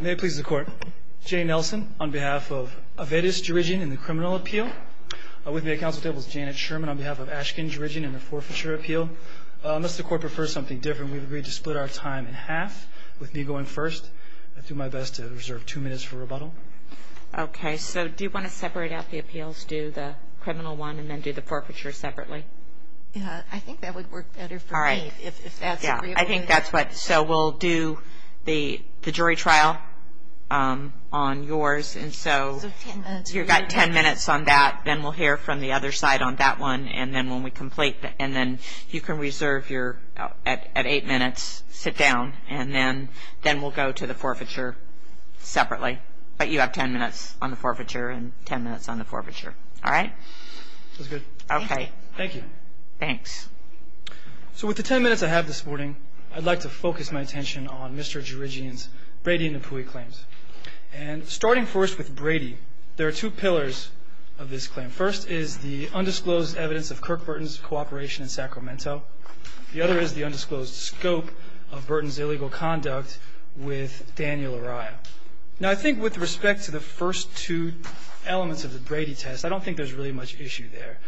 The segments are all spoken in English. May it please the court. Jay Nelson on behalf of Avedis Djeredjian in the criminal appeal. With me at council table is Janet Sherman on behalf of Ashken Djeredjian in the forfeiture appeal. Unless the court prefers something different, we've agreed to split our time in half, with me going first. I'll do my best to reserve two minutes for rebuttal. Okay, so do you want to separate out the appeals, do the criminal one, and then do the forfeiture separately? Yeah, I think that would work better for me, if that's agreeable. I think that's what, so we'll do the jury trial on yours, and so you've got ten minutes on that, then we'll hear from the other side on that one, and then when we complete, and then you can reserve your, at eight minutes, sit down, and then we'll go to the forfeiture separately. But you have ten minutes on the forfeiture, and ten minutes on the forfeiture. All right? Sounds good. Okay. Thank you. Thanks. So with the ten minutes I have this morning, I'd like to focus my attention on Mr. Djeredjian's Brady and Napoui claims. And starting first with Brady, there are two pillars of this claim. First is the undisclosed evidence of Kirk Burton's cooperation in Sacramento. The other is the undisclosed scope of Burton's illegal conduct with Daniel Uriah. Now, I think with respect to the first two elements of the Brady test, I don't think there's really much issue there.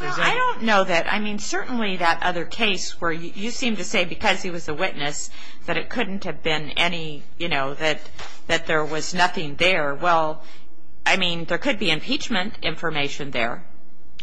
Well, I don't know that. I mean, certainly that other case where you seem to say because he was a witness that it couldn't have been any, you know, that there was nothing there. Well, I mean, there could be impeachment information there.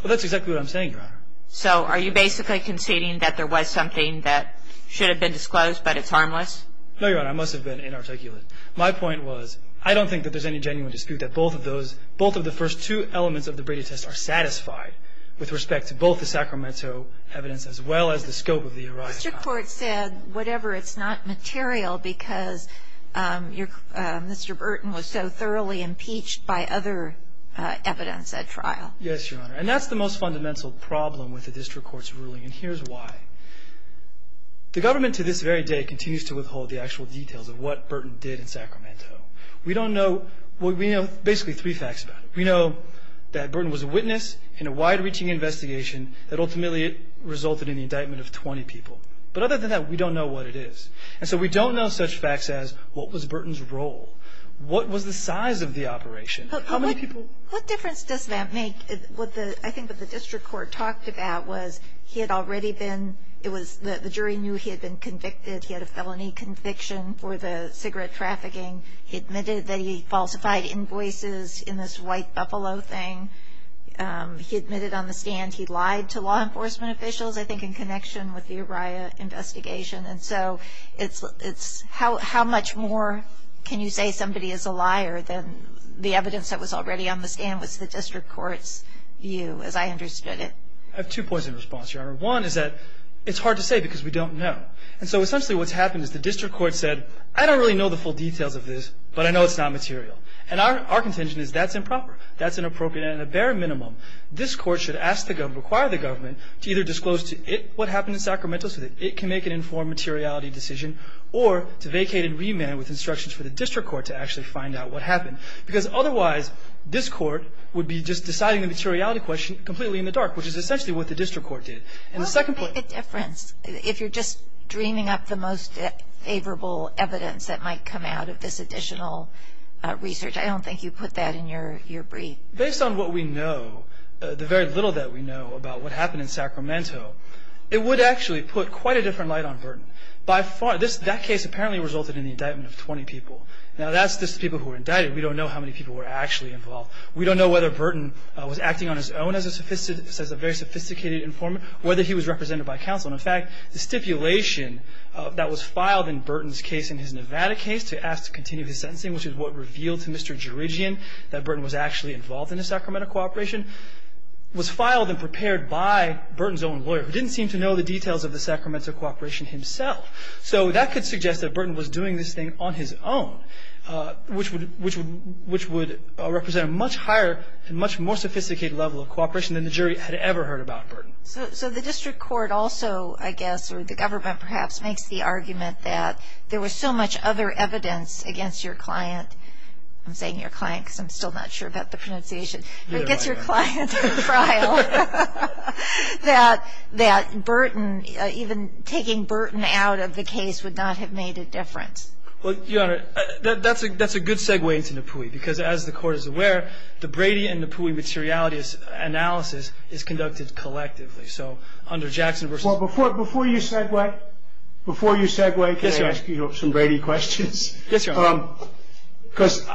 Well, that's exactly what I'm saying, Your Honor. So are you basically conceding that there was something that should have been disclosed, but it's harmless? No, Your Honor. I must have been inarticulate. My point was I don't think that there's any genuine dispute that both of those, both of the first two elements of the Brady test are satisfied with respect to both the Sacramento evidence as well as the scope of the Uriah trial. The district court said whatever. It's not material because Mr. Burton was so thoroughly impeached by other evidence at trial. Yes, Your Honor. And that's the most fundamental problem with the district court's ruling, and here's why. The government to this very day continues to withhold the actual details of what Burton did in Sacramento. We don't know, well, we know basically three facts about him. We know that Burton was a witness in a wide-reaching investigation that ultimately resulted in the indictment of 20 people. But other than that, we don't know what it is. And so we don't know such facts as what was Burton's role, what was the size of the operation, how many people. What difference does that make? I think what the district court talked about was he had already been, it was the jury knew he had been convicted. He had a felony conviction for the cigarette trafficking. He admitted that he falsified invoices in this white buffalo thing. He admitted on the stand he lied to law enforcement officials, I think, in connection with the Uriah investigation. And so it's how much more can you say somebody is a liar than the evidence that was already on the stand was the district court's view as I understood it. I have two points in response, Your Honor. One is that it's hard to say because we don't know. And so essentially what's happened is the district court said, I don't really know the full details of this, but I know it's not material. And our contention is that's improper. That's inappropriate. And at the bare minimum, this court should ask the government, require the government, to either disclose to it what happened in Sacramento so that it can make an informed materiality decision or to vacate and remand with instructions for the district court to actually find out what happened. Because otherwise, this court would be just deciding the materiality question completely in the dark, which is essentially what the district court did. And the second point. What would make a difference if you're just dreaming up the most favorable evidence that might come out of this additional research? I don't think you put that in your brief. Based on what we know, the very little that we know about what happened in Sacramento, it would actually put quite a different light on Burton. That case apparently resulted in the indictment of 20 people. Now that's just the people who were indicted. We don't know how many people were actually involved. We don't know whether Burton was acting on his own as a very sophisticated informant. We don't know whether he was represented by counsel. And, in fact, the stipulation that was filed in Burton's case in his Nevada case to ask to continue his sentencing, which is what revealed to Mr. Gerigian that Burton was actually involved in the Sacramento cooperation, was filed and prepared by Burton's own lawyer, who didn't seem to know the details of the Sacramento cooperation himself. So that could suggest that Burton was doing this thing on his own, which would represent a much higher and much more sophisticated level of cooperation than the jury had ever heard about Burton. So the district court also, I guess, or the government perhaps, makes the argument that there was so much other evidence against your client. I'm saying your client because I'm still not sure about the pronunciation. But it gets your client to the trial. That Burton, even taking Burton out of the case, would not have made a difference. Well, Your Honor, that's a good segue into Napui. Because, as the court is aware, the Brady and Napui materiality analysis is conducted collectively. So under Jackson v. Well, before you segue, before you segue, can I ask you some Brady questions? Yes, Your Honor. Because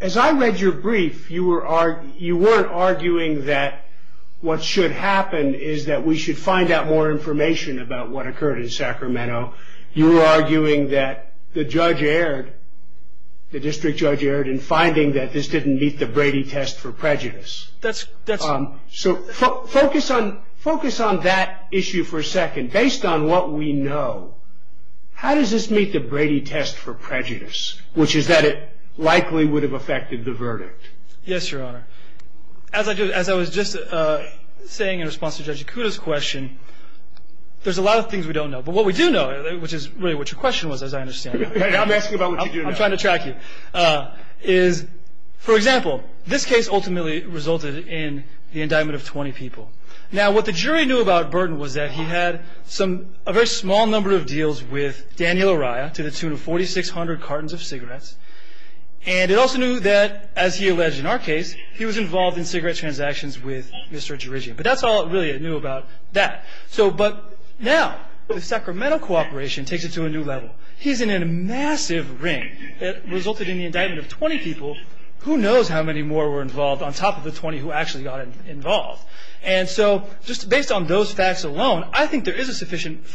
as I read your brief, you weren't arguing that what should happen is that we should find out more information about what occurred in Sacramento. You were arguing that the judge erred, the district judge erred, in finding that this didn't meet the Brady test for prejudice. That's right. So focus on that issue for a second. Based on what we know, how does this meet the Brady test for prejudice, which is that it likely would have affected the verdict? Yes, Your Honor. As I was just saying in response to Judge Yakuta's question, there's a lot of things we don't know. But what we do know, which is really what your question was, as I understand it. I'm asking about what you do know. I'm trying to track you. For example, this case ultimately resulted in the indictment of 20 people. Now, what the jury knew about Burton was that he had a very small number of deals with Daniel Uriah to the tune of 4,600 cartons of cigarettes. And it also knew that, as he alleged in our case, he was involved in cigarette transactions with Mr. Gerigian. But that's all it really knew about that. But now the Sacramento cooperation takes it to a new level. He's in a massive ring that resulted in the indictment of 20 people. Who knows how many more were involved on top of the 20 who actually got involved. And so just based on those facts alone, I think there is sufficient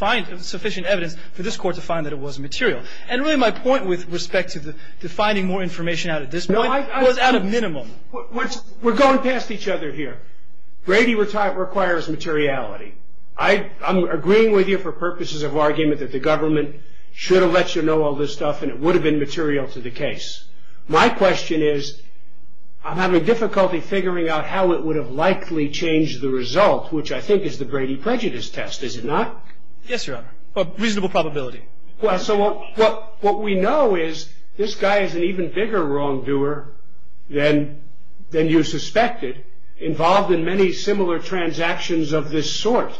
evidence for this Court to find that it was material. And really my point with respect to finding more information out at this point was out of minimum. We're going past each other here. Brady requires materiality. I'm agreeing with you for purposes of argument that the government should have let you know all this stuff and it would have been material to the case. My question is, I'm having difficulty figuring out how it would have likely changed the result, which I think is the Brady prejudice test. Is it not? Yes, Your Honor. A reasonable probability. So what we know is this guy is an even bigger wrongdoer than you suspected, involved in many similar transactions of this sort.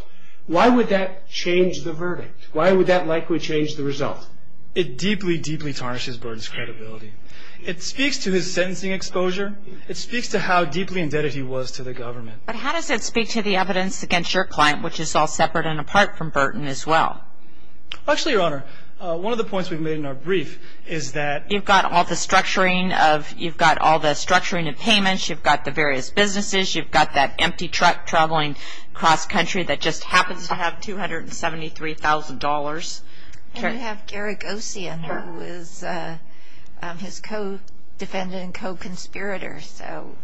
Why would that change the verdict? Why would that likely change the result? It deeply, deeply tarnishes Burton's credibility. It speaks to his sentencing exposure. It speaks to how deeply indebted he was to the government. But how does it speak to the evidence against your client, which is all separate and apart from Burton as well? Actually, Your Honor, one of the points we've made in our brief is that... You've got all the structuring of payments. You've got the various businesses. You've got that empty truck traveling cross-country that just happens to have $273,000. And you have Garagosian, who was his co-defendant and co-conspirator,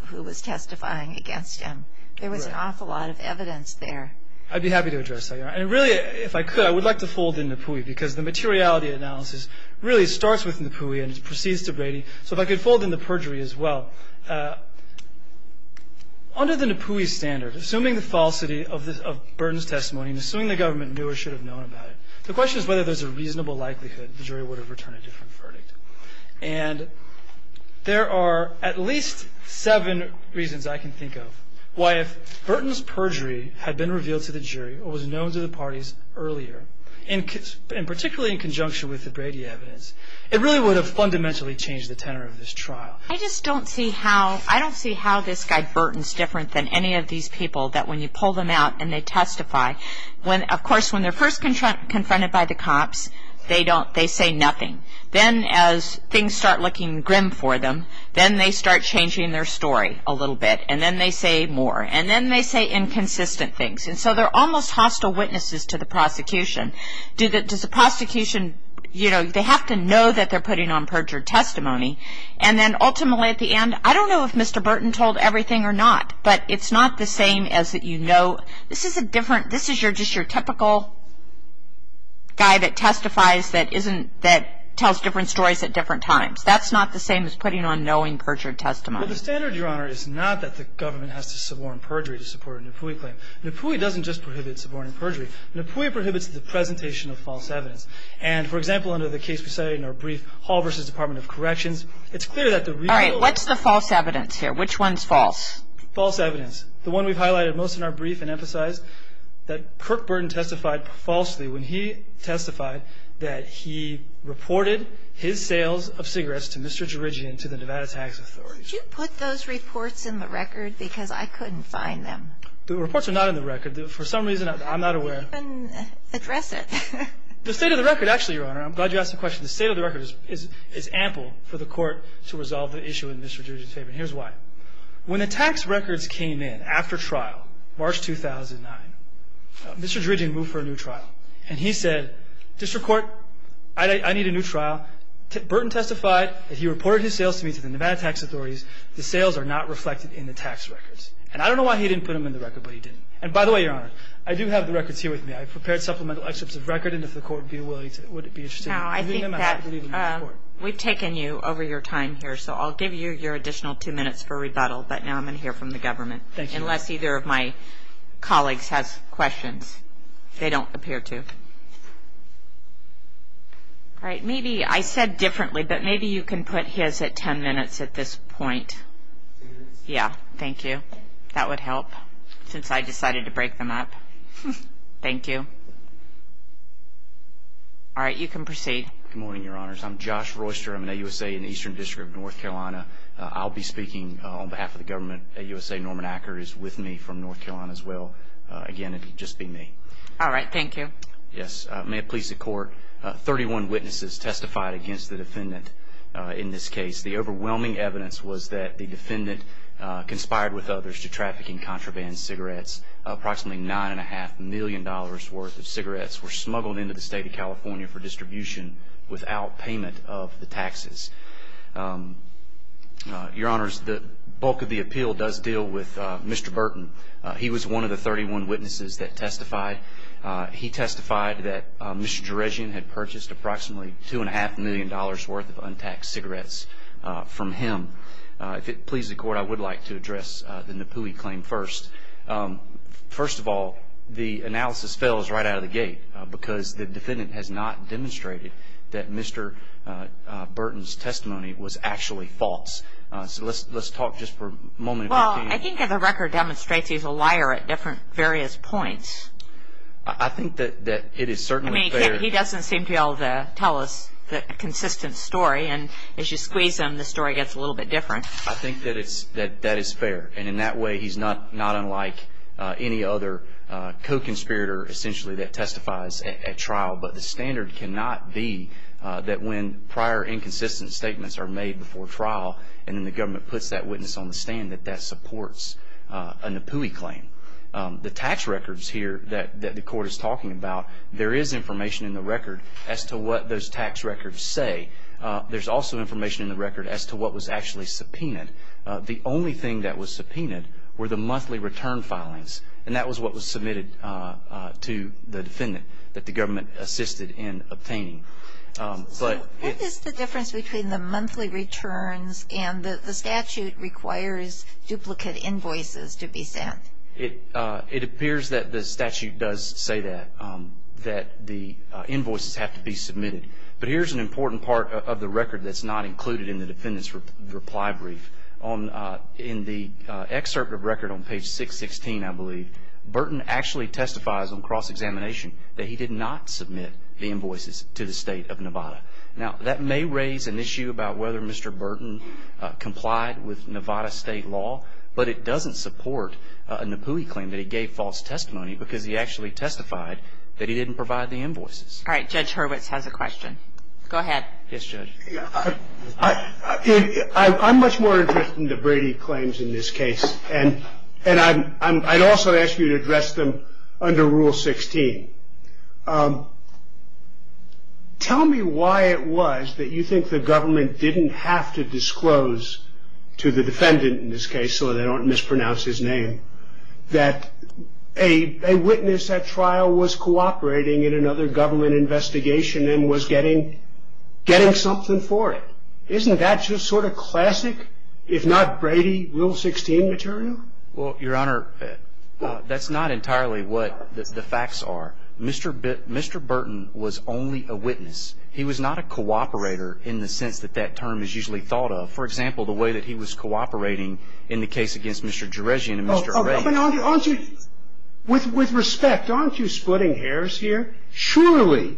who was testifying against him. There was an awful lot of evidence there. I'd be happy to address that, Your Honor. And really, if I could, I would like to fold in Napoui, because the materiality analysis really starts with Napoui and proceeds to Brady. So if I could fold in the perjury as well. Under the Napoui standard, assuming the falsity of Burton's testimony and assuming the government knew or should have known about it, the question is whether there's a reasonable likelihood the jury would have returned a different verdict. had been revealed to the jury or was known to the parties earlier, particularly in conjunction with the Brady evidence, it really would have fundamentally changed the tenor of this trial. I just don't see how this guy Burton's different than any of these people that when you pull them out and they testify, of course, when they're first confronted by the cops, they say nothing. Then as things start looking grim for them, then they start changing their story a little bit, and then they say more. And then they say inconsistent things. And so they're almost hostile witnesses to the prosecution. Does the prosecution, you know, they have to know that they're putting on perjured testimony. And then ultimately at the end, I don't know if Mr. Burton told everything or not, but it's not the same as that you know. This is a different, this is just your typical guy that testifies that tells different stories at different times. That's not the same as putting on knowing perjured testimony. Well, the standard, Your Honor, is not that the government has to suborn perjury to support a Napoui claim. Napoui doesn't just prohibit suborning perjury. Napoui prohibits the presentation of false evidence. And for example, under the case we cited in our brief, Hall v. Department of Corrections, it's clear that the real- All right, what's the false evidence here? Which one's false? False evidence. The one we've highlighted most in our brief and emphasized, that Kirk Burton testified falsely when he testified that he reported his sales of cigarettes to Mr. Gerigian to the Nevada Tax Authority. Did you put those reports in the record? Because I couldn't find them. The reports are not in the record. For some reason, I'm not aware. Then address it. The state of the record, actually, Your Honor, I'm glad you asked the question. The state of the record is ample for the court to resolve the issue in Mr. Gerigian's favor. And here's why. When the tax records came in after trial, March 2009, Mr. Gerigian moved for a new trial. And he said, District Court, I need a new trial. Now, Burton testified that he reported his sales to me to the Nevada Tax Authorities. The sales are not reflected in the tax records. And I don't know why he didn't put them in the record, but he didn't. And by the way, Your Honor, I do have the records here with me. I've prepared supplemental excerpts of record, and if the court would be willing to- Now, I think that we've taken you over your time here, so I'll give you your additional two minutes for rebuttal, but now I'm going to hear from the government. Thank you. Unless either of my colleagues has questions. They don't appear to. All right. Maybe I said differently, but maybe you can put his at ten minutes at this point. Ten minutes? Yeah. Thank you. That would help, since I decided to break them up. Thank you. All right. You can proceed. Good morning, Your Honors. I'm Josh Royster. I'm an AUSA in the Eastern District of North Carolina. I'll be speaking on behalf of the government. AUSA Norman Acker is with me from North Carolina as well. Again, it would just be me. All right. Thank you. Yes. May it please the Court. Thirty-one witnesses testified against the defendant in this case. The overwhelming evidence was that the defendant conspired with others to trafficking contraband cigarettes. Approximately $9.5 million worth of cigarettes were smuggled into the State of California for distribution without payment of the taxes. Your Honors, the bulk of the appeal does deal with Mr. Burton. He was one of the 31 witnesses that testified. He testified that Mr. Jerezian had purchased approximately $2.5 million worth of untaxed cigarettes from him. If it please the Court, I would like to address the Napoui claim first. First of all, the analysis fails right out of the gate, because the defendant has not demonstrated that Mr. Burton's testimony was actually false. So let's talk just for a moment. Well, I think the record demonstrates he's a liar at various points. I think that it is certainly fair. I mean, he doesn't seem to be able to tell us a consistent story, and as you squeeze him the story gets a little bit different. I think that that is fair, and in that way he's not unlike any other co-conspirator, essentially, that testifies at trial. But the standard cannot be that when prior inconsistent statements are made before trial and then the government puts that witness on the stand that that supports a Napoui claim. The tax records here that the Court is talking about, there is information in the record as to what those tax records say. There's also information in the record as to what was actually subpoenaed. The only thing that was subpoenaed were the monthly return filings, and that was what was submitted to the defendant that the government assisted in obtaining. What is the difference between the monthly returns and the statute requires duplicate invoices to be sent? It appears that the statute does say that, that the invoices have to be submitted. But here's an important part of the record that's not included in the defendant's reply brief. In the excerpt of record on page 616, I believe, Burton actually testifies on cross-examination that he did not submit the invoices to the state of Nevada. Now, that may raise an issue about whether Mr. Burton complied with Nevada state law, but it doesn't support a Napoui claim that he gave false testimony because he actually testified that he didn't provide the invoices. All right, Judge Hurwitz has a question. Go ahead. Yes, Judge. I'm much more interested in the Brady claims in this case, and I'd also ask you to address them under Rule 16. Tell me why it was that you think the government didn't have to disclose to the defendant in this case, so they don't mispronounce his name, that a witness at trial was cooperating in another government investigation and was getting something for it. Isn't that just sort of classic, if not Brady, Rule 16 material? Well, Your Honor, that's not entirely what the facts are. Mr. Burton was only a witness. He was not a cooperator in the sense that that term is usually thought of. For example, the way that he was cooperating in the case against Mr. Jerezian and Mr. Array. With respect, aren't you splitting hairs here? Surely,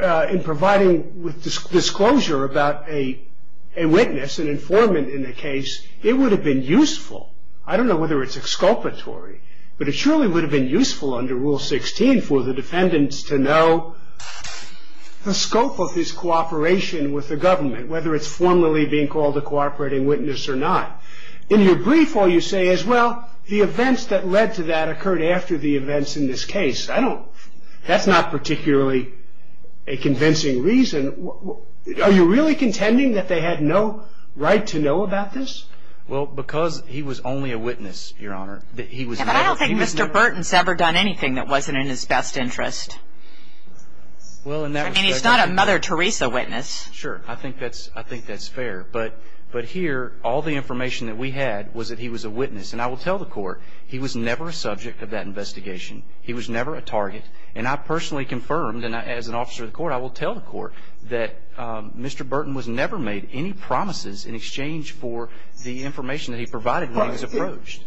in providing disclosure about a witness, an informant in the case, it would have been useful. I don't know whether it's exculpatory, but it surely would have been useful under Rule 16 for the defendants to know the scope of his cooperation with the government, whether it's formally being called a cooperating witness or not. In your brief, all you say is, well, the events that led to that occurred after the events in this case. That's not particularly a convincing reason. Are you really contending that they had no right to know about this? Well, because he was only a witness, Your Honor. But I don't think Mr. Burton's ever done anything that wasn't in his best interest. I mean, he's not a Mother Teresa witness. Sure, I think that's fair. But here, all the information that we had was that he was a witness. And I will tell the Court, he was never a subject of that investigation. He was never a target. And I personally confirmed, and as an officer of the Court, I will tell the Court, that Mr. Burton was never made any promises in exchange for the information that he provided when he was approached.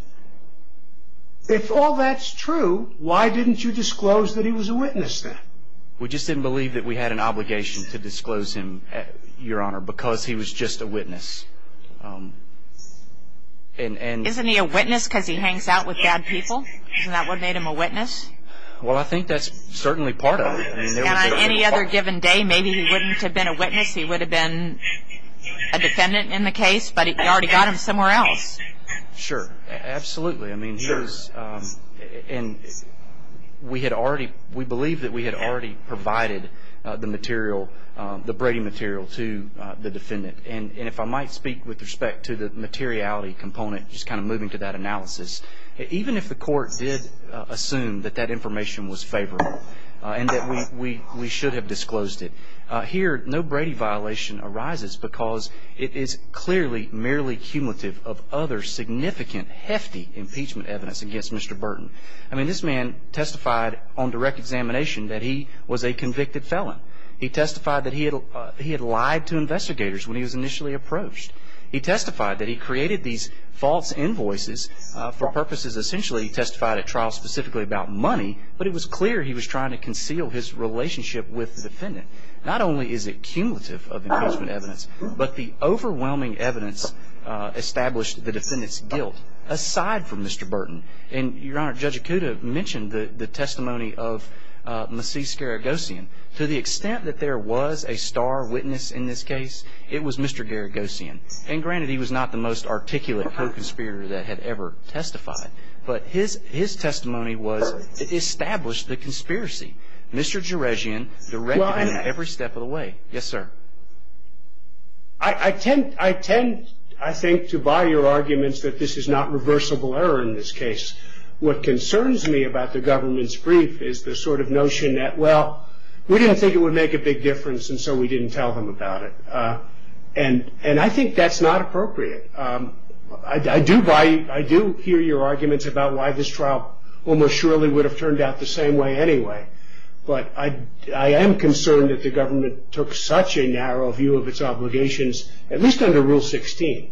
If all that's true, why didn't you disclose that he was a witness then? We just didn't believe that we had an obligation to disclose him, Your Honor, because he was just a witness. Isn't he a witness because he hangs out with bad people? Isn't that what made him a witness? Well, I think that's certainly part of it. And on any other given day, maybe he wouldn't have been a witness. He would have been a defendant in the case, but you already got him somewhere else. Sure, absolutely. I mean, we believe that we had already provided the Brady material to the defendant. And if I might speak with respect to the materiality component, just kind of moving to that analysis, even if the Court did assume that that information was favorable and that we should have disclosed it, here no Brady violation arises because it is clearly merely cumulative of other significant, hefty impeachment evidence against Mr. Burton. I mean, this man testified on direct examination that he was a convicted felon. He testified that he had lied to investigators when he was initially approached. He testified that he created these false invoices for purposes, essentially, he testified at trial specifically about money, but it was clear he was trying to conceal his relationship with the defendant. Not only is it cumulative of evidence, but the overwhelming evidence established the defendant's guilt aside from Mr. Burton. And, Your Honor, Judge Acuda mentioned the testimony of Macis Garagosian. To the extent that there was a star witness in this case, it was Mr. Garagosian. And, granted, he was not the most articulate co-conspirator that had ever testified. But his testimony was, it established the conspiracy. Mr. Garagosian directed it every step of the way. Yes, sir. I tend, I think, to buy your arguments that this is not reversible error in this case. What concerns me about the government's brief is the sort of notion that, well, we didn't think it would make a big difference, and so we didn't tell them about it. And I think that's not appropriate. I do buy, I do hear your arguments about why this trial almost surely would have turned out the same way anyway. But I am concerned that the government took such a narrow view of its obligations, at least under Rule 16.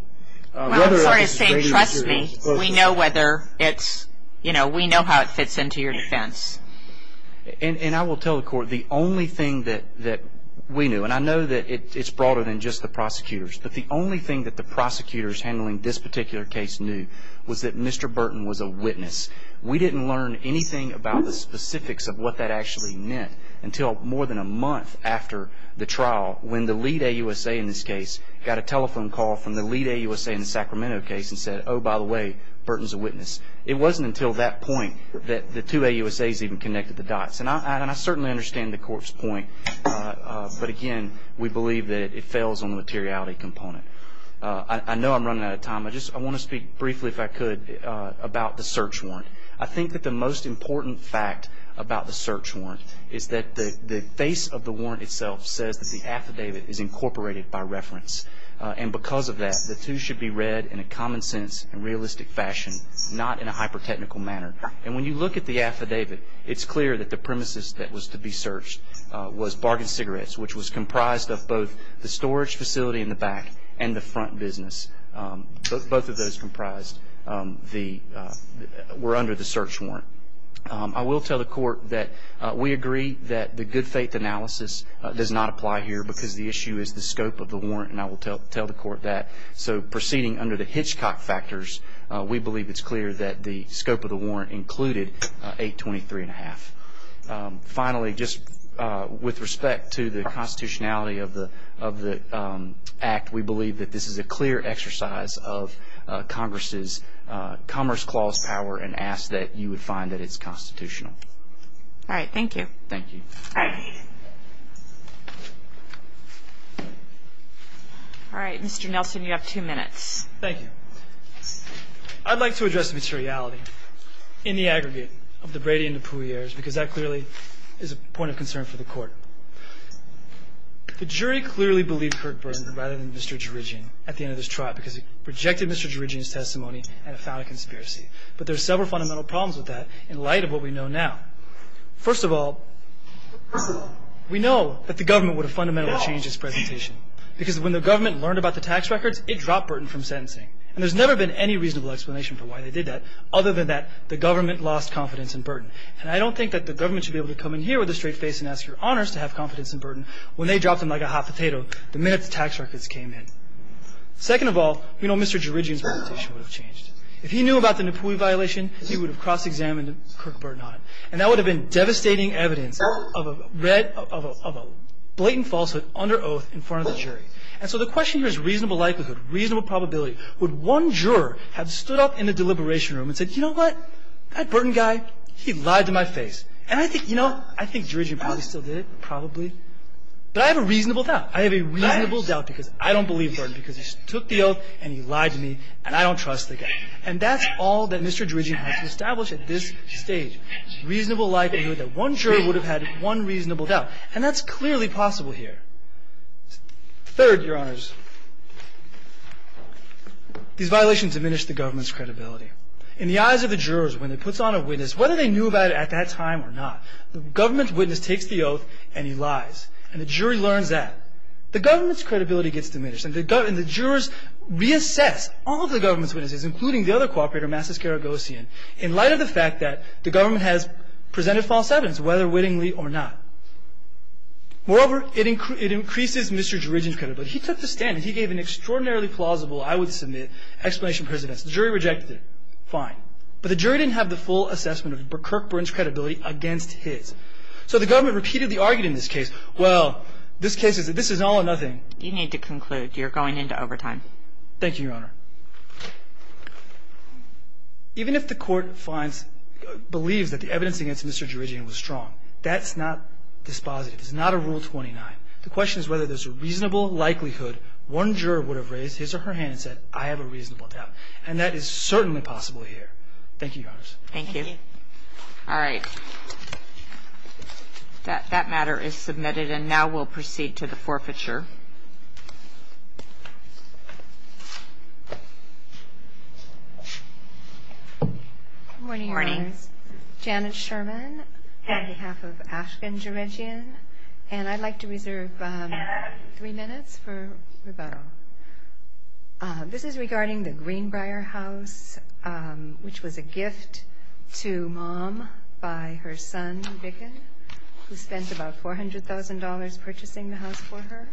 Well, I'm sorry to say, trust me, we know whether it's, you know, we know how it fits into your defense. And I will tell the Court, the only thing that we knew, and I know that it's broader than just the prosecutors, but the only thing that the prosecutors handling this particular case knew was that Mr. Burton was a witness. We didn't learn anything about the specifics of what that actually meant until more than a month after the trial when the lead AUSA in this case got a telephone call from the lead AUSA in the Sacramento case and said, oh, by the way, Burton's a witness. It wasn't until that point that the two AUSAs even connected the dots. And I certainly understand the Court's point, but again, we believe that it fails on the materiality component. I know I'm running out of time. I just want to speak briefly, if I could, about the search warrant. I think that the most important fact about the search warrant is that the face of the warrant itself says that the affidavit is incorporated by reference. And because of that, the two should be read in a common sense and realistic fashion, not in a hyper-technical manner. And when you look at the affidavit, it's clear that the premises that was to be searched was bargain cigarettes, which was comprised of both the storage facility in the back and the front business. Both of those were under the search warrant. I will tell the Court that we agree that the good faith analysis does not apply here because the issue is the scope of the warrant, and I will tell the Court that. So proceeding under the Hitchcock factors, we believe it's clear that the scope of the warrant included 823.5. Finally, just with respect to the constitutionality of the Act, we believe that this is a clear exercise of Congress's Commerce Clause power and ask that you would find that it's constitutional. All right, thank you. Thank you. All right, Mr. Nelson, you have two minutes. Thank you. I'd like to address the materiality in the aggregate of the Brady and DePuy heirs because that clearly is a point of concern for the Court. The jury clearly believed Kirk Burton rather than Mr. Gerigian at the end of this trial because he rejected Mr. Gerigian's testimony and found a conspiracy. But there are several fundamental problems with that in light of what we know now. First of all, we know that the government would have fundamentally changed its presentation because when the government learned about the tax records, it dropped Burton from sentencing. And there's never been any reasonable explanation for why they did that other than that the government lost confidence in Burton. And I don't think that the government should be able to come in here with a straight face and ask your honors to have confidence in Burton when they dropped him like a hot potato the minute the tax records came in. Second of all, we know Mr. Gerigian's presentation would have changed. If he knew about the DePuy violation, he would have cross-examined Kirk Burton on it. And that would have been devastating evidence of a blatant falsehood under oath in front of the jury. And so the question here is reasonable likelihood, reasonable probability. Would one juror have stood up in the deliberation room and said, you know what, that Burton guy, he lied to my face. And I think, you know, I think Gerigian probably still did it, probably. But I have a reasonable doubt. I have a reasonable doubt because I don't believe Burton because he took the oath and he lied to me, and I don't trust the guy. And that's all that Mr. Gerigian has established at this stage, reasonable likelihood that one juror would have had one reasonable doubt. And that's clearly possible here. Third, your honors, these violations diminish the government's credibility. In the eyes of the jurors, when it puts on a witness, whether they knew about it at that time or not, the government's witness takes the oath and he lies, and the jury learns that. The government's credibility gets diminished, and the jurors reassess all of the government's witnesses, including the other co-operator, Mathis Garagosian, in light of the fact that the government has presented false evidence, whether wittingly or not. Moreover, it increases Mr. Gerigian's credibility. He took the stand, and he gave an extraordinarily plausible, I would submit, explanation to his defense. The jury rejected it. Fine. But the jury didn't have the full assessment of Kirk Burton's credibility against his. So the government repeatedly argued in this case, well, this case is all or nothing. You need to conclude. You're going into overtime. Thank you, your honor. Even if the court believes that the evidence against Mr. Gerigian was strong, that's not dispositive. It's not a Rule 29. The question is whether there's a reasonable likelihood one juror would have raised his or her hand and said, I have a reasonable doubt, and that is certainly possible here. Thank you, your honors. Thank you. All right. That matter is submitted, and now we'll proceed to the forfeiture. Good morning, your honors. Good morning. Janet Sherman on behalf of Ashton Gerigian, and I'd like to reserve three minutes for rebuttal. This is regarding the Greenbrier house, which was a gift to Mom by her son, Vicken, who spent about $400,000 purchasing the house for her.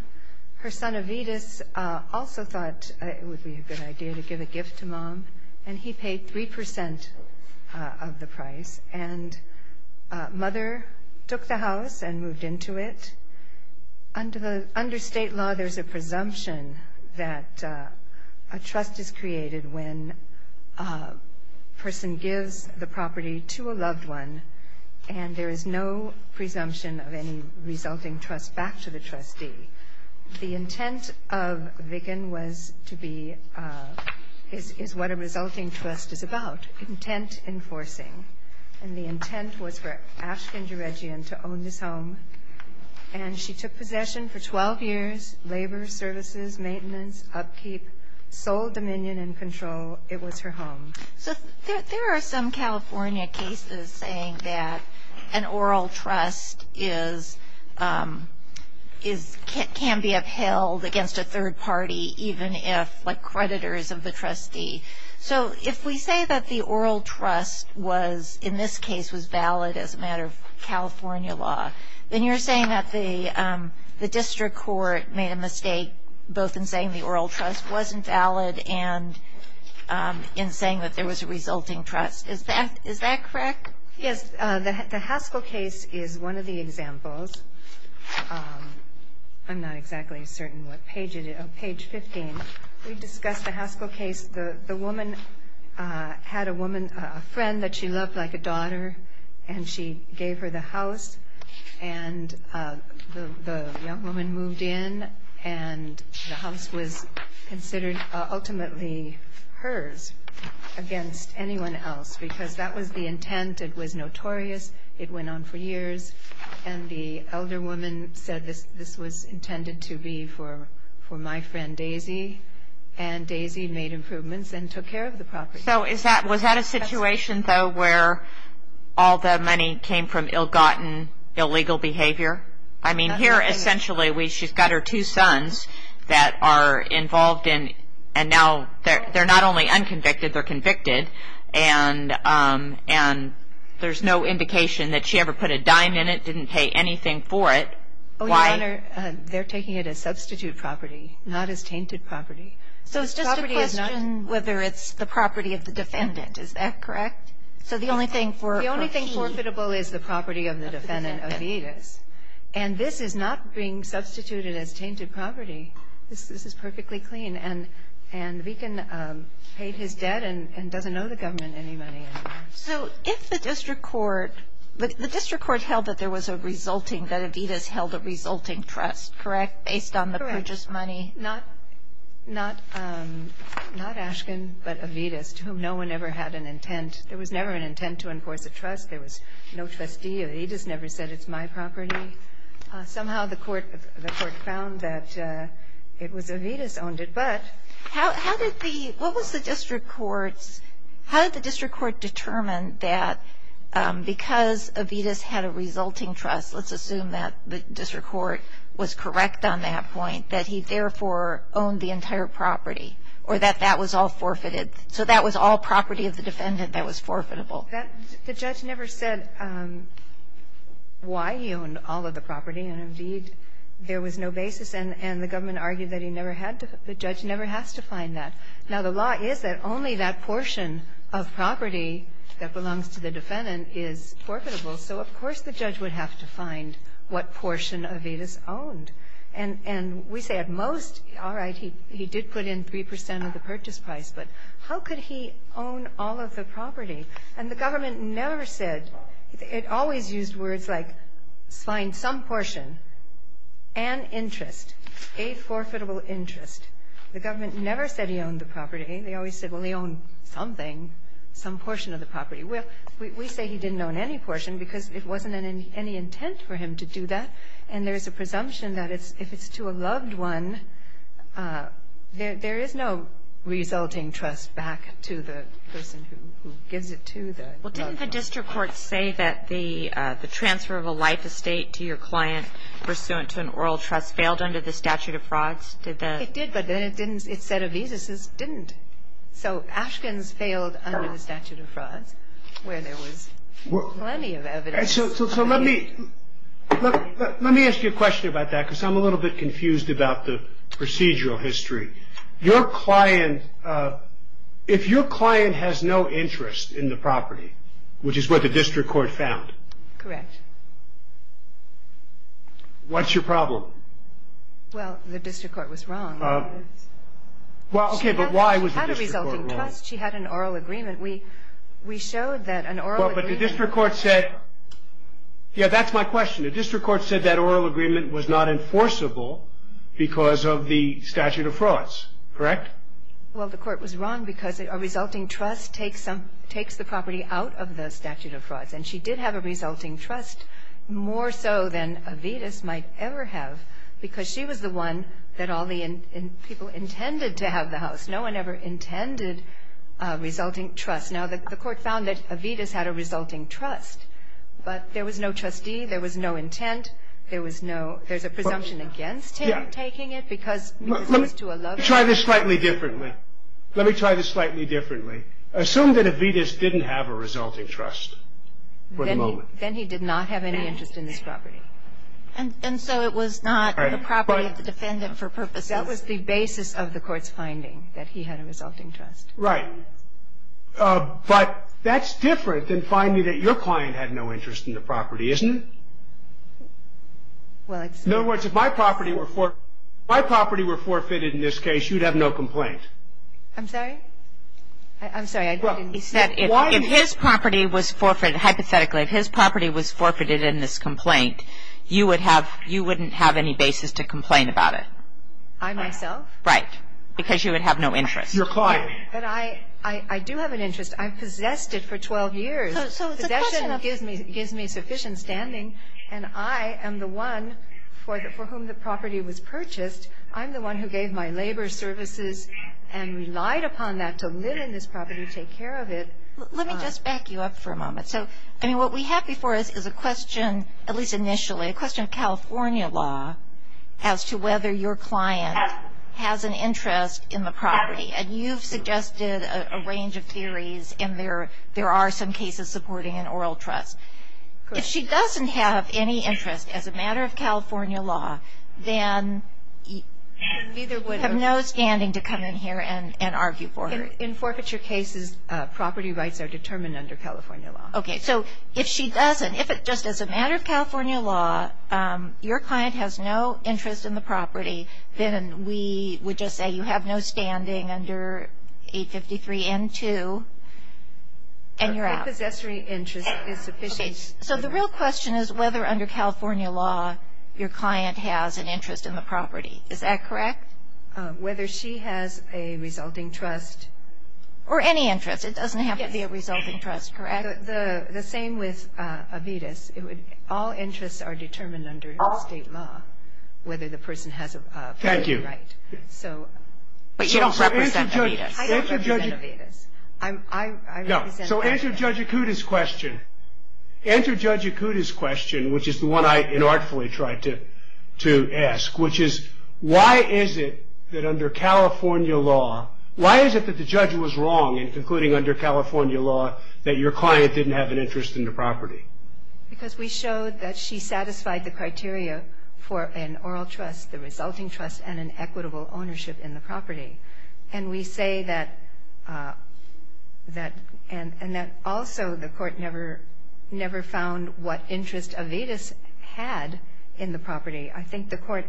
Her son, Avidus, also thought it would be a good idea to give a gift to Mom, and he paid 3% of the price, and Mother took the house and moved into it. Under state law, there's a presumption that a trust is created when a person gives the property to a loved one, and there is no presumption of any resulting trust back to the trustee. The intent of Vicken was to be, is what a resulting trust is about, intent enforcing. And the intent was for Ashton Gerigian to own this home, and she took possession for 12 years, labor, services, maintenance, upkeep, sole dominion and control. It was her home. So there are some California cases saying that an oral trust can be upheld against a third party, even if, like creditors of the trustee. So if we say that the oral trust was, in this case, was valid as a matter of California law, then you're saying that the district court made a mistake, both in saying the oral trust wasn't valid and in saying that there was a resulting trust. Is that correct? Yes. The Haskell case is one of the examples. I'm not exactly certain what page it is. Oh, page 15. We discussed the Haskell case. The woman had a friend that she loved like a daughter, and she gave her the house, and the young woman moved in, and the house was considered ultimately hers against anyone else, because that was the intent. It was notorious. It went on for years. And the elder woman said this was intended to be for my friend Daisy, and Daisy made improvements and took care of the property. So was that a situation, though, where all the money came from ill-gotten illegal behavior? I mean, here, essentially, she's got her two sons that are involved in, and now they're not only unconvicted, they're convicted, and there's no indication that she ever put a dime in it, didn't pay anything for it. Oh, Your Honor, they're taking it as substitute property, not as tainted property. So it's just a question whether it's the property of the defendant. Is that correct? So the only thing forfeitable is the property of the defendant, Evita's, and this is not being substituted as tainted property. This is perfectly clean, and the deacon paid his debt and doesn't owe the government any money anymore. So if the district court held that there was a resulting, that Evita's held a resulting trust, correct, based on the purchased money, not Ashkin, but Evita's, to whom no one ever had an intent. There was never an intent to enforce a trust. There was no trustee. Evita's never said it's my property. Somehow the court found that it was Evita's owned it. But how did the – what was the district court's – how did the district court determine that because Evita's had a resulting trust, let's assume that the district court was correct on that point, that he therefore owned the entire property or that that was all forfeited. So that was all property of the defendant that was forfeitable. The judge never said why he owned all of the property, and indeed there was no basis, and the government argued that he never had to – the judge never has to find that. Now, the law is that only that portion of property that belongs to the defendant is forfeitable. So of course the judge would have to find what portion Evita's owned. And we say at most, all right, he did put in 3 percent of the purchase price, but how could he own all of the property? And the government never said – it always used words like find some portion, an interest, a forfeitable interest. The government never said he owned the property. They always said, well, he owned something, some portion of the property. We say he didn't own any portion because it wasn't any intent for him to do that, and there's a presumption that if it's to a loved one, there is no resulting trust back to the person who gives it to the loved one. Well, didn't the district court say that the transfer of a life estate to your client pursuant to an oral trust failed under the statute of frauds? It did, but then it said Evita's didn't. So Ashkin's failed under the statute of frauds where there was plenty of evidence. So let me ask you a question about that because I'm a little bit confused about the procedural history. Your client – if your client has no interest in the property, which is what the district court found. Correct. What's your problem? Well, the district court was wrong. Well, okay, but why was the district court wrong? She had a resulting trust. She had an oral agreement. We showed that an oral agreement. But the district court said – yeah, that's my question. The district court said that oral agreement was not enforceable because of the statute of frauds. Correct? Well, the court was wrong because a resulting trust takes the property out of the statute of frauds, and she did have a resulting trust, more so than Evita's might ever have, because she was the one that all the people intended to have the house. No one ever intended a resulting trust. Now, the court found that Evita's had a resulting trust, but there was no trustee. There was no intent. There was no – there's a presumption against him taking it because it was to a loved one. Let me try this slightly differently. Let me try this slightly differently. Assume that Evita's didn't have a resulting trust for the moment. Then he did not have any interest in this property. And so it was not a property of the defendant for purposes – That was the basis of the court's finding, that he had a resulting trust. Right. But that's different than finding that your client had no interest in the property, isn't it? Well, it's – In other words, if my property were forfeited in this case, you'd have no complaint. I'm sorry? I'm sorry, I didn't – He said if his property was forfeited, hypothetically, if his property was forfeited in this complaint, you would have – you wouldn't have any basis to complain about it. I myself? Right. Because you would have no interest. Your client. But I do have an interest. I've possessed it for 12 years. So it's a question of – Possession gives me sufficient standing, and I am the one for whom the property was purchased. I'm the one who gave my labor services and relied upon that to live in this property, take care of it. Let me just back you up for a moment. So, I mean, what we have before us is a question, at least initially, a question of California law as to whether your client has an interest in the property. And you've suggested a range of theories, and there are some cases supporting an oral trust. If she doesn't have any interest as a matter of California law, then you have no standing to come in here and argue for her. In forfeiture cases, property rights are determined under California law. Okay. So if she doesn't, if it's just as a matter of California law, your client has no interest in the property, then we would just say you have no standing under 853 N2, and you're out. My possessory interest is sufficient. So the real question is whether under California law your client has an interest in the property. Is that correct? Whether she has a resulting trust. Or any interest. It doesn't have to be a resulting trust, correct? The same with Avitis. All interests are determined under state law, whether the person has a property right. Thank you. But you don't represent Avitis. I don't represent Avitis. I represent Avitis. So answer Judge Ikuda's question. Answer Judge Ikuda's question, which is the one I inartfully tried to ask, which is why is it that under California law, why is it that the judge was wrong in concluding under California law that your client didn't have an interest in the property? Because we showed that she satisfied the criteria for an oral trust, the resulting trust, and an equitable ownership in the property. And we say that also the court never found what interest Avitis had in the property. I think the court,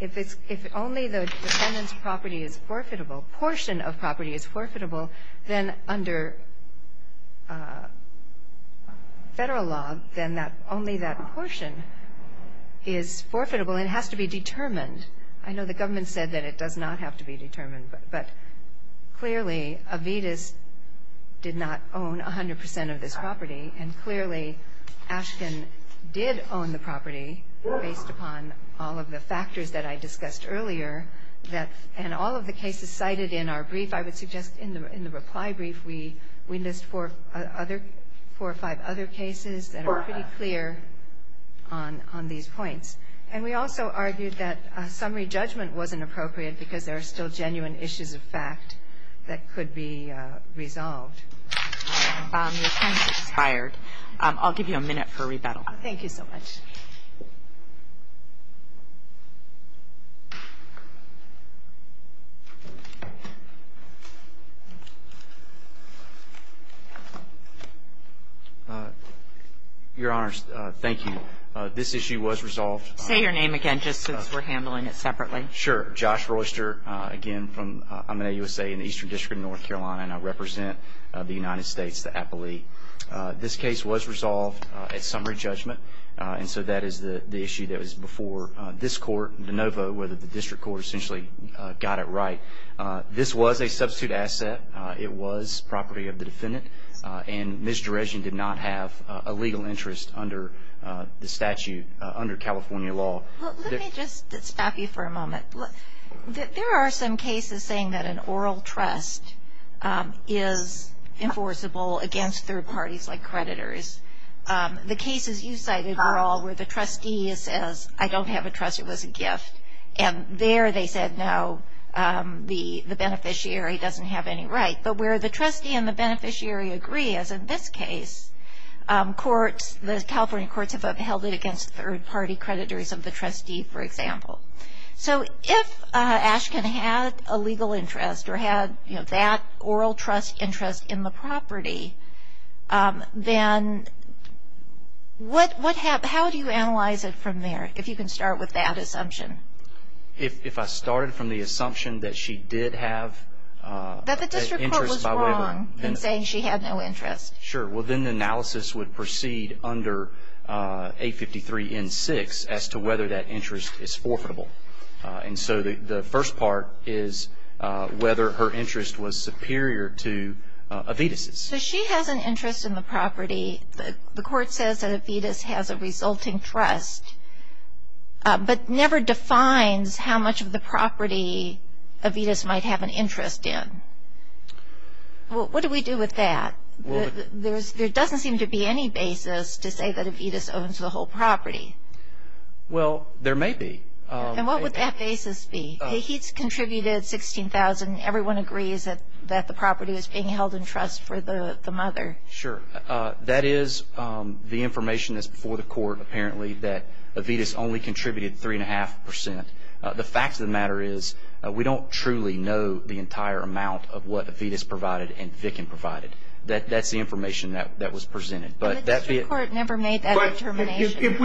if only the defendant's property is forfeitable, portion of property is forfeitable, then under Federal law, then only that portion is forfeitable and has to be determined. I know the government said that it does not have to be determined, but clearly Avitis did not own 100 percent of this property. And clearly Ashkin did own the property, based upon all of the factors that I discussed earlier. And all of the cases cited in our brief, I would suggest in the reply brief, we list four or five other cases that are pretty clear on these points. And we also argued that a summary judgment wasn't appropriate because there are still genuine issues of fact that could be resolved. Your time has expired. I'll give you a minute for rebuttal. Thank you so much. Your Honors, thank you. This issue was resolved. Say your name again, just since we're handling it separately. Sure. Josh Royster, again, I'm an AUSA in the Eastern District of North Carolina, and I represent the United States, the appellee. This case was resolved at summary judgment, and so that is the issue that was before this court, DeNovo, where the district court essentially got it right. This was a substitute asset. It was property of the defendant, and Ms. Derejian did not have a legal interest under the statute, under California law. Let me just stop you for a moment. There are some cases saying that an oral trust is enforceable against third parties like creditors. The cases you cited were all where the trustee says, I don't have a trustee, it was a gift. And there they said, no, the beneficiary doesn't have any right. But where the trustee and the beneficiary agree, as in this case, the California courts have upheld it against third-party creditors of the trustee, for example. So if Ashkin had a legal interest or had that oral trust interest in the property, then how do you analyze it from there, if you can start with that assumption? If I started from the assumption that she did have interest by waiver. That the district court was wrong in saying she had no interest. Sure. Well, then the analysis would proceed under 853 N6 as to whether that interest is forfeitable. And so the first part is whether her interest was superior to Avetis'. So she has an interest in the property. The court says that Avetis' has a resulting trust, but never defines how much of the property Avetis' might have an interest in. What do we do with that? There doesn't seem to be any basis to say that Avetis' owns the whole property. Well, there may be. And what would that basis be? He's contributed $16,000. Everyone agrees that the property is being held in trust for the mother. Sure. That is the information that's before the court, apparently, that Avetis' only contributed 3.5%. The fact of the matter is we don't truly know the entire amount of what Avetis' provided and Vickin provided. That's the information that was presented. The magistrate court never made that determination.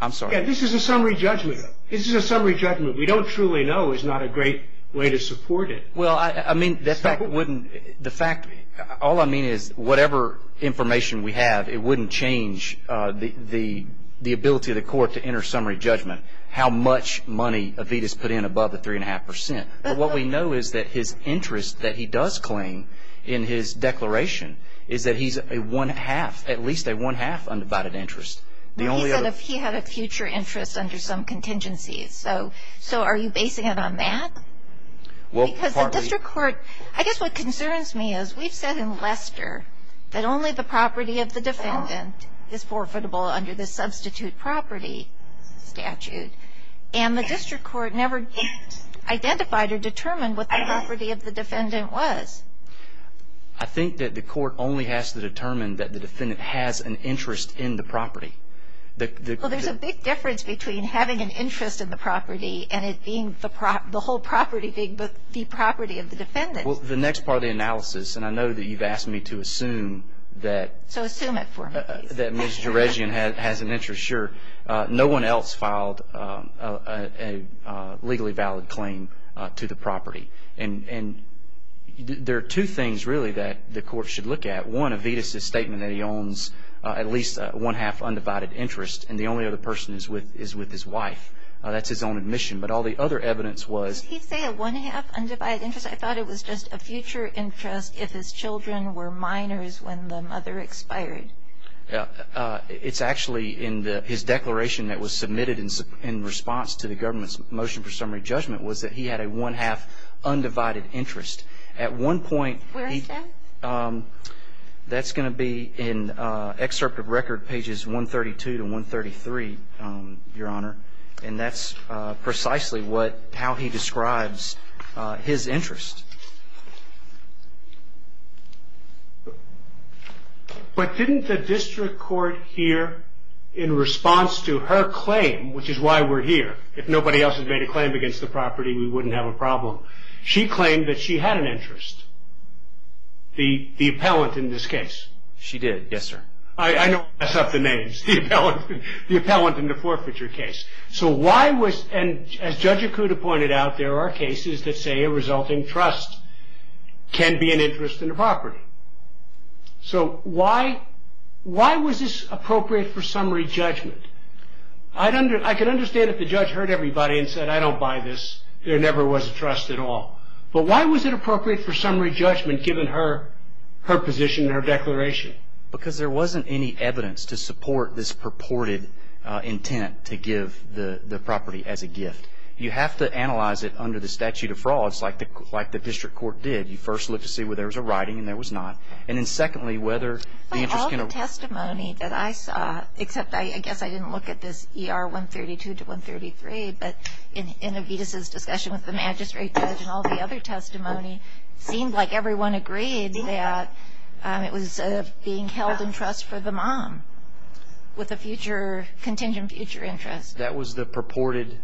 I'm sorry. This is a summary judgment. This is a summary judgment. We don't truly know is not a great way to support it. Well, I mean, the fact, all I mean is whatever information we have, it wouldn't change the ability of the court to enter summary judgment, how much money Avetis put in above the 3.5%. But what we know is that his interest that he does claim in his declaration is that he's a one-half, at least a one-half undivided interest. He said he had a future interest under some contingencies. So are you basing it on that? Well, partly. Because the district court, I guess what concerns me is we've said in Lester that only the property of the defendant is profitable under the substitute property statute. And the district court never identified or determined what the property of the defendant was. I think that the court only has to determine that the defendant has an interest in the property. Well, there's a big difference between having an interest in the property and it being the whole property being the property of the defendant. Well, the next part of the analysis, and I know that you've asked me to assume that Ms. Jerezian has an interest. Sure. No one else filed a legally valid claim to the property. And there are two things, really, that the court should look at. One, Evita's statement that he owns at least a one-half undivided interest and the only other person is with his wife. That's his own admission. But all the other evidence was... Did he say a one-half undivided interest? I thought it was just a future interest if his children were minors when the mother expired. It's actually in his declaration that was submitted in response to the government's motion for summary judgment was that he had a one-half undivided interest. At one point... Where is that? That's going to be in excerpt of record pages 132 to 133, Your Honor. And that's precisely what, how he describes his interest. But didn't the district court here, in response to her claim, which is why we're here... If nobody else had made a claim against the property, we wouldn't have a problem. She claimed that she had an interest, the appellant in this case. She did, yes, sir. I don't want to mess up the names. The appellant in the forfeiture case. So why was, and as Judge Okuda pointed out, there are cases that say a resulting trust can be an interest in the property. So why was this appropriate for summary judgment? I can understand if the judge heard everybody and said, I don't buy this. There never was a trust at all. But why was it appropriate for summary judgment given her position in her declaration? Because there wasn't any evidence to support this purported intent to give the property as a gift. You have to analyze it under the statute of frauds like the district court did. You first look to see where there was a writing and there was not. And then secondly, whether the interest in a... But all the testimony that I saw, except I guess I didn't look at this ER 132 to 133, but in Evita's discussion with the magistrate judge and all the other testimony, seemed like everyone agreed that it was being held in trust for the mom with a future, contingent future interest. That was the purported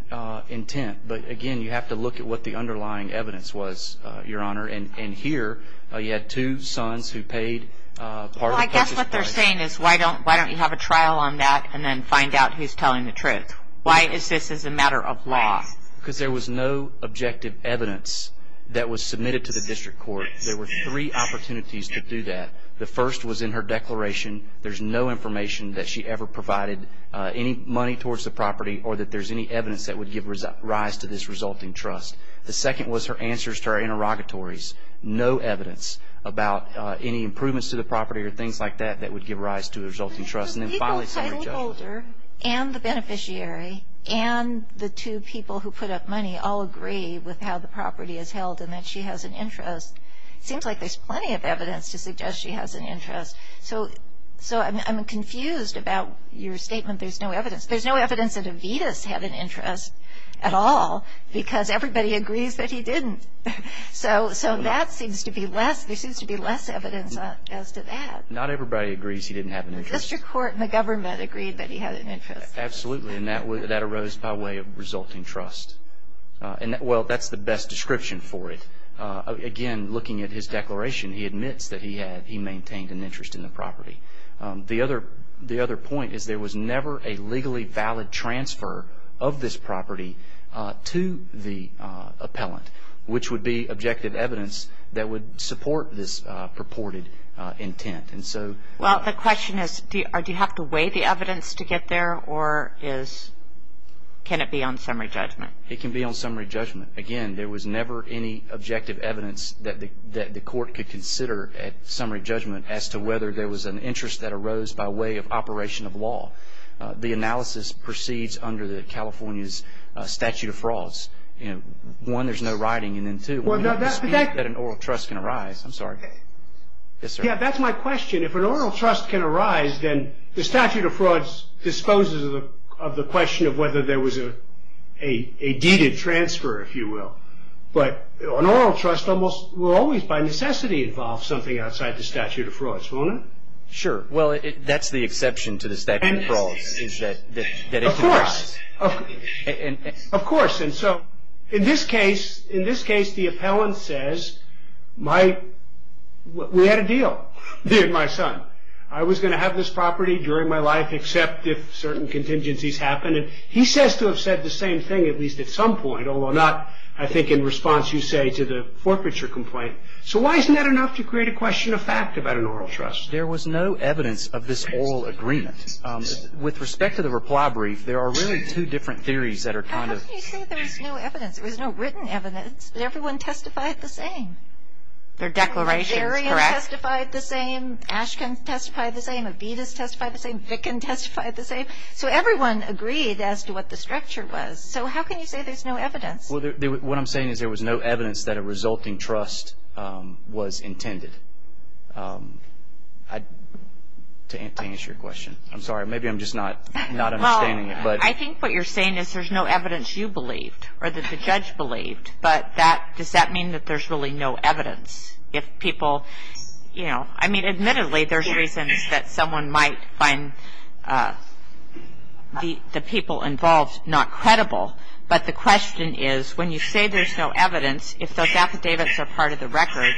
intent. But again, you have to look at what the underlying evidence was, Your Honor. And here, you had two sons who paid part of the... Well, I guess what they're saying is, why don't you have a trial on that and then find out who's telling the truth? Why is this a matter of law? Because there was no objective evidence that was submitted to the district court. There were three opportunities to do that. The first was in her declaration. There's no information that she ever provided any money towards the property or that there's any evidence that would give rise to this resulting trust. The second was her answers to her interrogatories. No evidence about any improvements to the property or things like that that would give rise to a resulting trust. So the title holder and the beneficiary and the two people who put up money all agree with how the property is held and that she has an interest. It seems like there's plenty of evidence to suggest she has an interest. So I'm confused about your statement, there's no evidence. There's no evidence that Evita's had an interest at all because everybody agrees that he didn't. So that seems to be less. There seems to be less evidence as to that. Not everybody agrees he didn't have an interest. The district court and the government agreed that he had an interest. Absolutely, and that arose by way of resulting trust. Well, that's the best description for it. Again, looking at his declaration, he admits that he maintained an interest in the property. The other point is there was never a legally valid transfer of this property to the appellant, which would be objective evidence that would support this purported intent. Well, the question is, do you have to weigh the evidence to get there, or can it be on summary judgment? It can be on summary judgment. Again, there was never any objective evidence that the court could consider at summary judgment as to whether there was an interest that arose by way of operation of law. The analysis proceeds under California's statute of frauds. One, there's no writing, and then two, one, there's no dispute that an oral trust can arise. I'm sorry. Yes, sir. That's my question. If an oral trust can arise, then the statute of frauds disposes of the question of whether there was a deed of transfer, if you will. But an oral trust will always by necessity involve something outside the statute of frauds, won't it? Sure. Well, that's the exception to the statute of frauds is that it can arise. Of course. In this case, the appellant says, we had a deal, me and my son. I was going to have this property during my life except if certain contingencies happened. He says to have said the same thing at least at some point, although not, I think, in response, you say, to the forfeiture complaint. So why isn't that enough to create a question of fact about an oral trust? There was no evidence of this oral agreement. With respect to the reply brief, there are really two different theories that are kind of. How can you say there was no evidence? There was no written evidence. Everyone testified the same. Their declarations, correct. Darian testified the same. Ashkin testified the same. Avedis testified the same. Vicken testified the same. So everyone agreed as to what the structure was. So how can you say there's no evidence? What I'm saying is there was no evidence that a resulting trust was intended. To answer your question. I'm sorry. Maybe I'm just not understanding it. Well, I think what you're saying is there's no evidence you believed or that the judge believed. But does that mean that there's really no evidence if people, you know. I mean, admittedly, there's reasons that someone might find the people involved not credible. But the question is when you say there's no evidence, if those affidavits are part of the record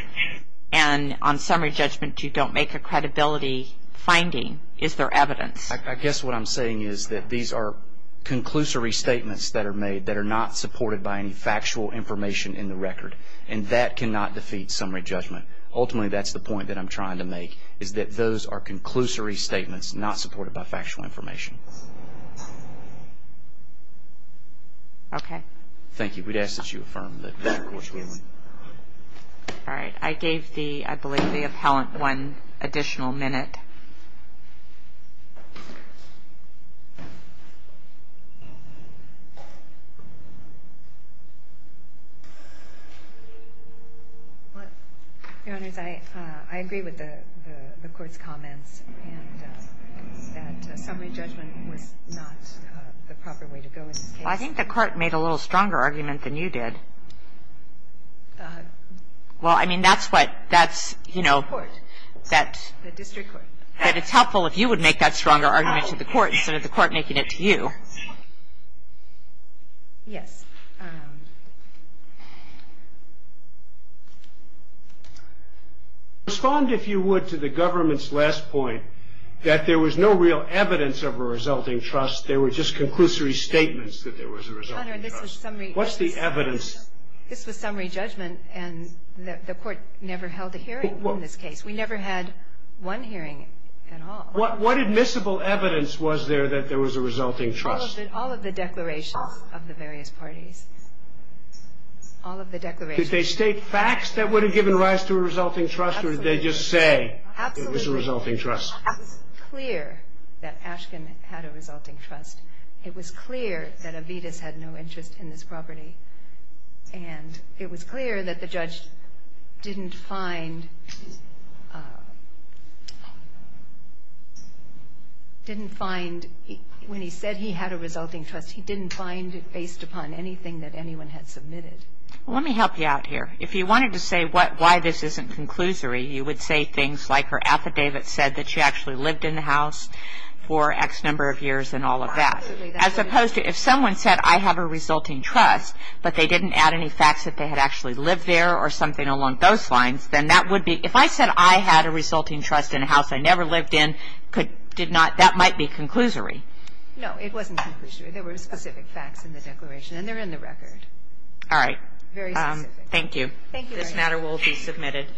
and on summary judgment you don't make a credibility finding, is there evidence? I guess what I'm saying is that these are conclusory statements that are made that are not supported by any factual information in the record. And that cannot defeat summary judgment. Ultimately, that's the point that I'm trying to make, is that those are conclusory statements not supported by factual information. Okay. Thank you. I think we'd ask that you affirm that that court's ruling. All right. I gave the, I believe, the appellant one additional minute. Your Honors, I agree with the court's comments and that summary judgment was not the proper way to go in this case. I think the court made a little stronger argument than you did. Well, I mean, that's what, that's, you know, that it's helpful if you would make that stronger argument to the court instead of the court making it to you. Yes. Respond, if you would, to the government's last point, that there was no real evidence of a resulting trust. There were just conclusory statements that there was a resulting trust. What's the evidence? This was summary judgment, and the court never held a hearing in this case. We never had one hearing at all. What admissible evidence was there that there was a resulting trust? All of the declarations of the various parties. All of the declarations. Did they state facts that would have given rise to a resulting trust, or did they just say it was a resulting trust? It was clear that Ashkin had a resulting trust. It was clear that Avitis had no interest in this property. And it was clear that the judge didn't find, didn't find, when he said he had a resulting trust, he didn't find it based upon anything that anyone had submitted. Well, let me help you out here. If you wanted to say why this isn't conclusory, you would say things like her affidavit said that she actually lived in the house for X number of years and all of that. Absolutely. As opposed to if someone said, I have a resulting trust, but they didn't add any facts that they had actually lived there or something along those lines, then that would be, if I said I had a resulting trust in a house I never lived in, that might be conclusory. No, it wasn't conclusory. There were specific facts in the declaration, and they're in the record. All right. Very specific. Thank you. This matter will be submitted.